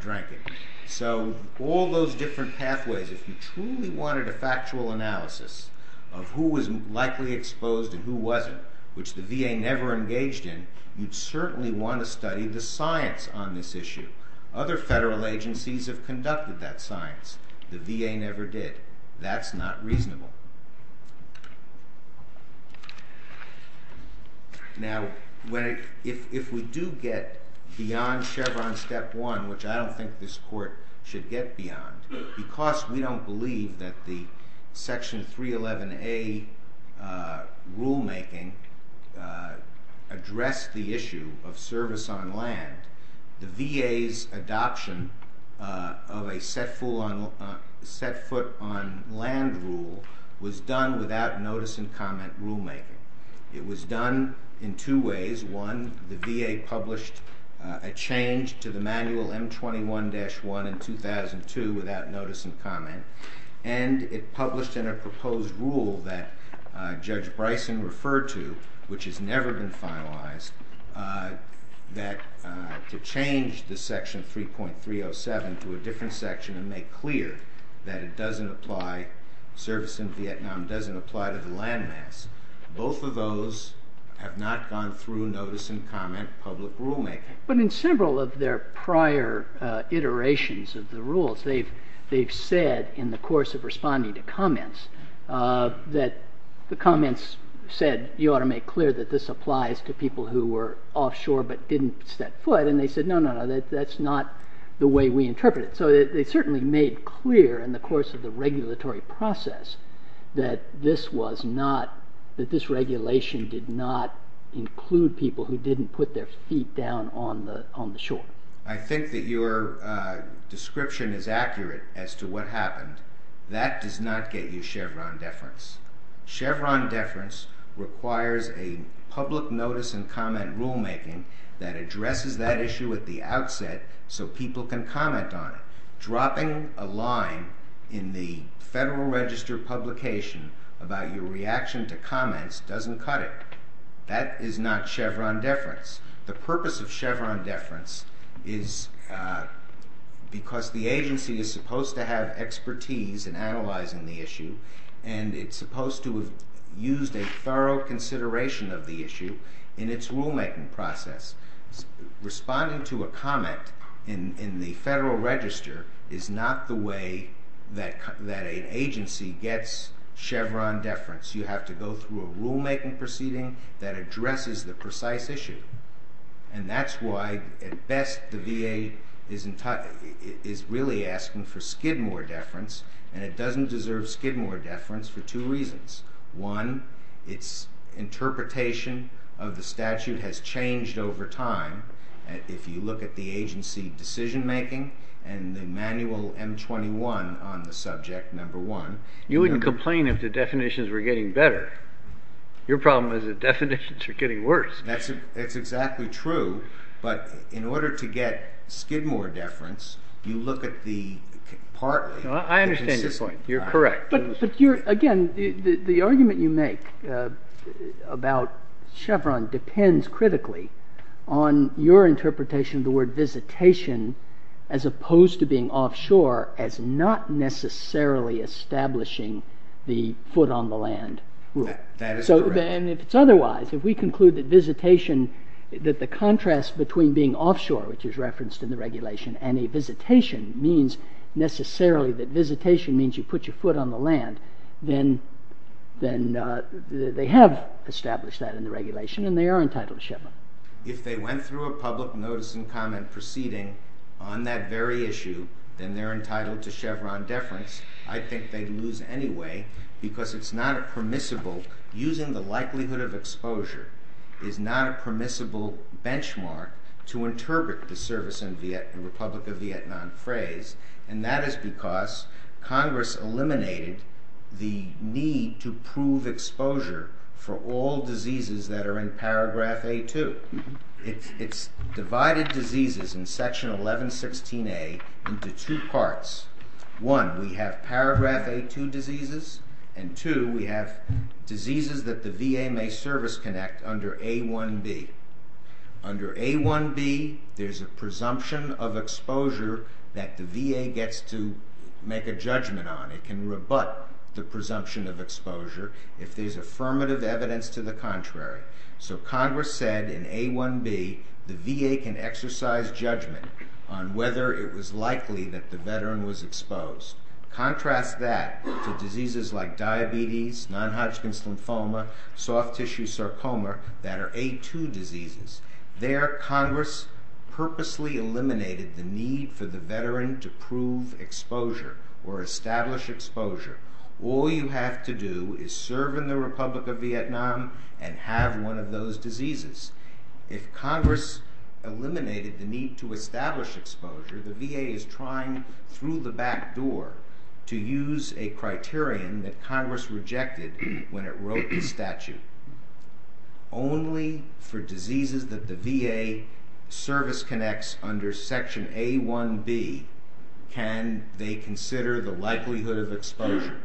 drank it. So all those different pathways if you truly wanted a factual analysis of who was likely exposed and who wasn't, which the VA never engaged in, you'd certainly want to study the science on this issue. Other federal agencies have conducted that science. The VA never did. That's not reasonable. Now if we do get beyond Chevron Step 1, which I don't think this Court should get beyond, because we don't believe that the Section 311A rulemaking addressed the issue of service on land, the VA's adoption of a set foot on land rule was done without notice and comment rulemaking. It was done in two ways. One, the VA published a change to the manual M21-1 in 2002 without notice and comment and it published in a proposed rule that Judge Bryson referred to, which has never been finalized, that to change the Section 3.307 to a different section and make clear that it doesn't apply, service in Vietnam doesn't apply to the land mass, both of those have not gone through notice and comment public rulemaking. But in several of their prior iterations of the rules, they've said in the course of responding to comments that the comments said, you ought to make clear that this applies to people who were offshore but didn't set foot, and they said, no, no, no, that's not the way we interpret it. So they certainly made clear in the course of the regulatory process that this was not, that this regulation did not include people who didn't put their feet down on the shore. I think that your description is accurate as to what happened. That does not get you Chevron deference. Chevron deference requires a public notice and comment rulemaking that addresses that issue at the outset so people can comment on it. Dropping a line in the Federal Register publication about your reaction to comments doesn't cut it. That is not Chevron deference. The purpose of Chevron deference is because the agency is supposed to have expertise in analyzing the issue and it's supposed to have a thorough consideration of the issue in its rulemaking process. Responding to a comment in the Federal Register is not the way that an agency gets Chevron deference. You have to go through a rulemaking proceeding that addresses the precise issue, and that's why at best the VA is really asking for Skidmore deference, and it doesn't deserve Skidmore deference for two reasons. One, its interpretation of the statute has changed over time. If you look at the agency decision-making and the manual M-21 on the subject, number one... You wouldn't complain if the definitions were getting better. Your problem is that definitions are getting worse. That's exactly true, but in order to get Skidmore deference, you look at the partly... I understand your point. You're correct. Again, the argument you make about Chevron depends critically on your interpretation of the word visitation as opposed to being offshore as not necessarily establishing the foot-on-the-land rule. That is correct. If it's otherwise, if we conclude that visitation, that the contrast between being offshore, which is referenced in the regulation, and a visitation means necessarily that visitation means you put your foot on the land, then they have established that in the regulation and they are entitled to Chevron. If they went through a public notice and comment proceeding on that very issue, then they're entitled to Chevron deference. I think they'd lose anyway because it's not a permissible... Using the likelihood of exposure is not a permissible benchmark to interpret the service in the Republic of Vietnam phrase and that is because Congress eliminated the need to prove exposure for all diseases that are in paragraph A2. It's divided diseases in section 1116A into two parts. One, we have paragraph A2 diseases and two, we have diseases that the VA may service connect under A1B. Under A1B, there's a presumption of exposure that the VA gets to make a judgment on. It can rebut the presumption of exposure if there's affirmative evidence to the contrary. Congress said in A1B the VA can exercise judgment on whether it was likely that the veteran was exposed. Contrast that to diseases like diabetes, non-Hodgkin's lymphoma, soft tissue sarcoma that are A2 diseases. There, Congress purposely eliminated the need for the veteran to prove exposure or establish exposure. All you have to do is serve in the Republic of Vietnam and have one of those diseases. If Congress eliminated the need to establish exposure, the VA is trying through the back door to use a criterion that Congress rejected when it wrote the statute. Only for diseases that the VA service connects under section A1B can they consider the likelihood of exposure.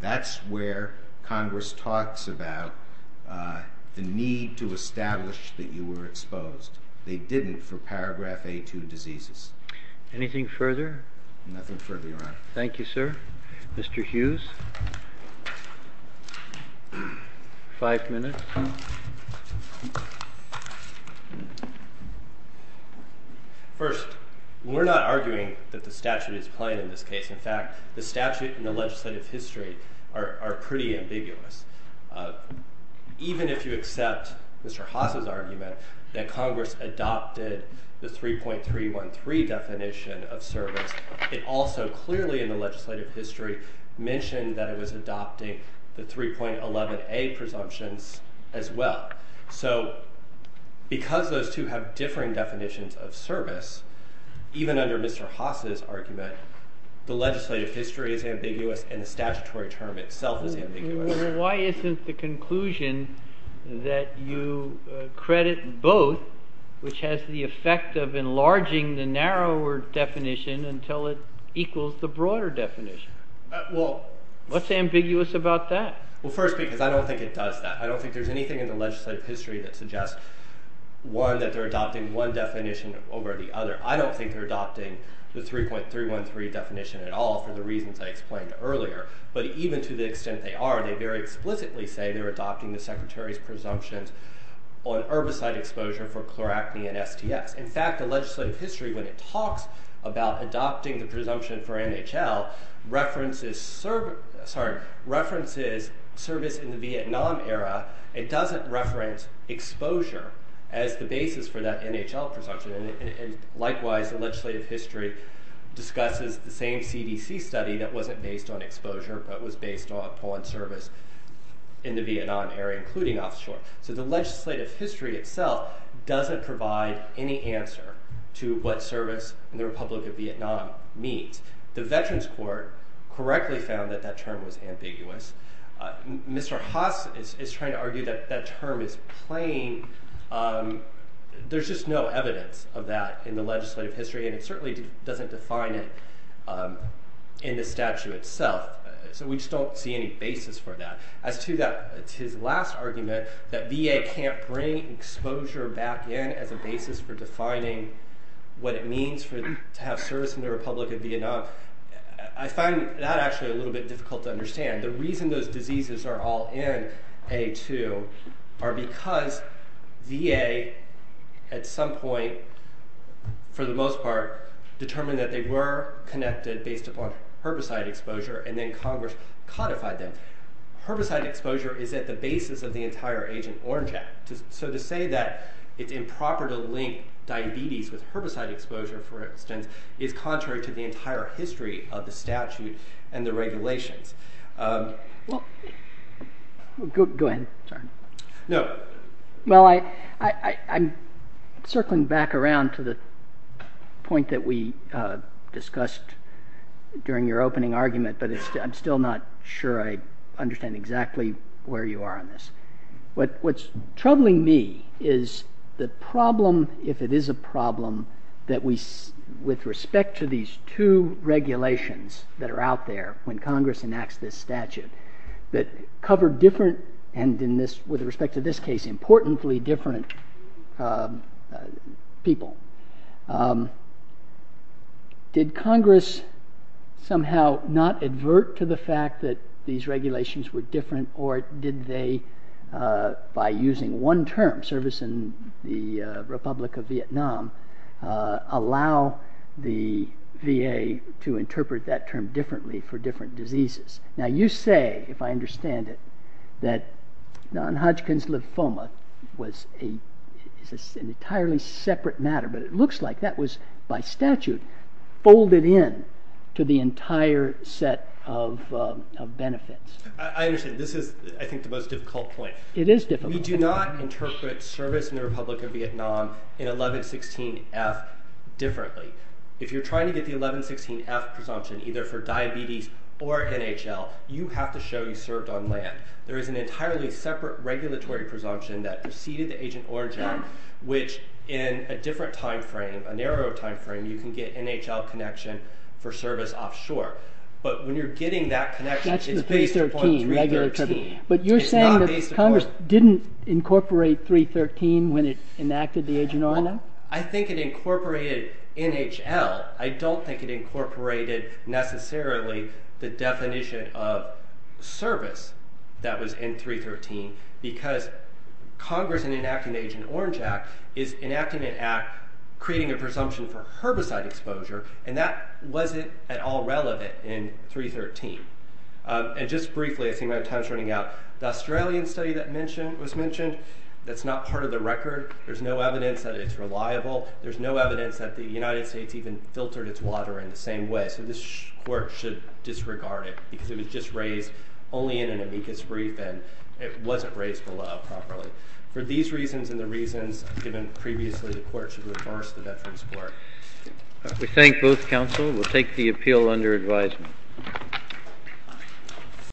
That's where Congress talks about the need to establish that you were exposed. They didn't for paragraph A2 diseases. Anything further? Nothing further, Your Honor. Thank you, sir. Mr. Hughes? Five minutes. First, we're not arguing that the statute is plain in this case. In fact, the statute and the legislative history are pretty ambiguous. Even if you accept Mr. Haas' argument that Congress adopted the 3.313 definition of service, it also clearly in the legislative history mentioned that it was adopting the 3.11A presumptions as well. Because those two have differing definitions of service, even under Mr. Haas' argument, the legislative history is ambiguous and the statutory term itself is ambiguous. Why isn't the conclusion that you credit both, which has the effect of enlarging the narrower definition until it equals the broader definition? What's ambiguous about that? First, because I don't think it does that. I don't think there's anything in the legislative history that suggests one, that they're adopting one definition over the other. I don't think they're adopting the 3.313 definition at all for the reasons I explained earlier. But even to the extent they are, they very explicitly say they're on herbicide exposure for chloracne and STS. In fact, the legislative history, when it talks about adopting the presumption for NHL, references service in the Vietnam era. It doesn't reference exposure as the basis for that NHL presumption. Likewise, the legislative history discusses the same CDC study that wasn't based on exposure, but was based upon service in the Vietnam area, including offshore. So the legislative history itself doesn't provide any answer to what service in the Republic of Vietnam means. The Veterans Court correctly found that that term was ambiguous. Mr. Haas is trying to argue that that term is plain. There's just no evidence of that in the legislative history, and it certainly doesn't define it in the statute itself. So we just don't see any basis for that. As to his last argument, that VA can't bring exposure back in as a basis for defining what it means to have service in the Republic of Vietnam, I find that actually a little bit difficult to understand. The reason those diseases are all in A2 are because VA at some point, for the most part, determined that they were connected based upon herbicide exposure, and then Congress codified them. Herbicide exposure is at the basis of the entire Agent Orange Act. To say that it's improper to link diabetes with herbicide exposure, for instance, is contrary to the entire history of the statute and the regulations. I'm circling back around to the point that we discussed during your opening argument, but I'm still not sure I understand exactly where you are on this. What's troubling me is the problem, if it is a problem, that with respect to these two regulations that are out there when Congress enacts this statute that cover different and with respect to this case importantly different people. Did Congress somehow not advert to the different, or did they by using one term, service in the Republic of Vietnam, allow the VA to interpret that term differently for different diseases? Now you say, if I understand it, that non-Hodgkin's lymphoma was an entirely separate matter, but it looks like that was, by statute, folded in to the entire set of regulations, and this is, I think, the most difficult point. It is difficult. We do not interpret service in the Republic of Vietnam in 1116F differently. If you're trying to get the 1116F presumption, either for diabetes or NHL, you have to show you served on land. There is an entirely separate regulatory presumption that preceded the Agent Origin, which in a different time frame, a narrow time frame, you can get NHL connection for service offshore, but when you're getting that connection, it's based upon 313. But you're saying that Congress didn't incorporate 313 when it enacted the Agent Origin? I think it incorporated NHL. I don't think it incorporated necessarily the definition of service that was in 313, because Congress, in enacting the Agent Orange Act, is enacting an act creating a presumption for herbicide exposure, and that wasn't at all 313. And just briefly, I see my time's running out, the Australian study that was mentioned, that's not part of the record. There's no evidence that it's reliable. There's no evidence that the United States even filtered its water in the same way, so this Court should disregard it, because it was just raised only in an amicus brief and it wasn't raised below properly. For these reasons and the reasons given previously, the Court should reverse the Veterans' Court. We thank both counsel. We'll take the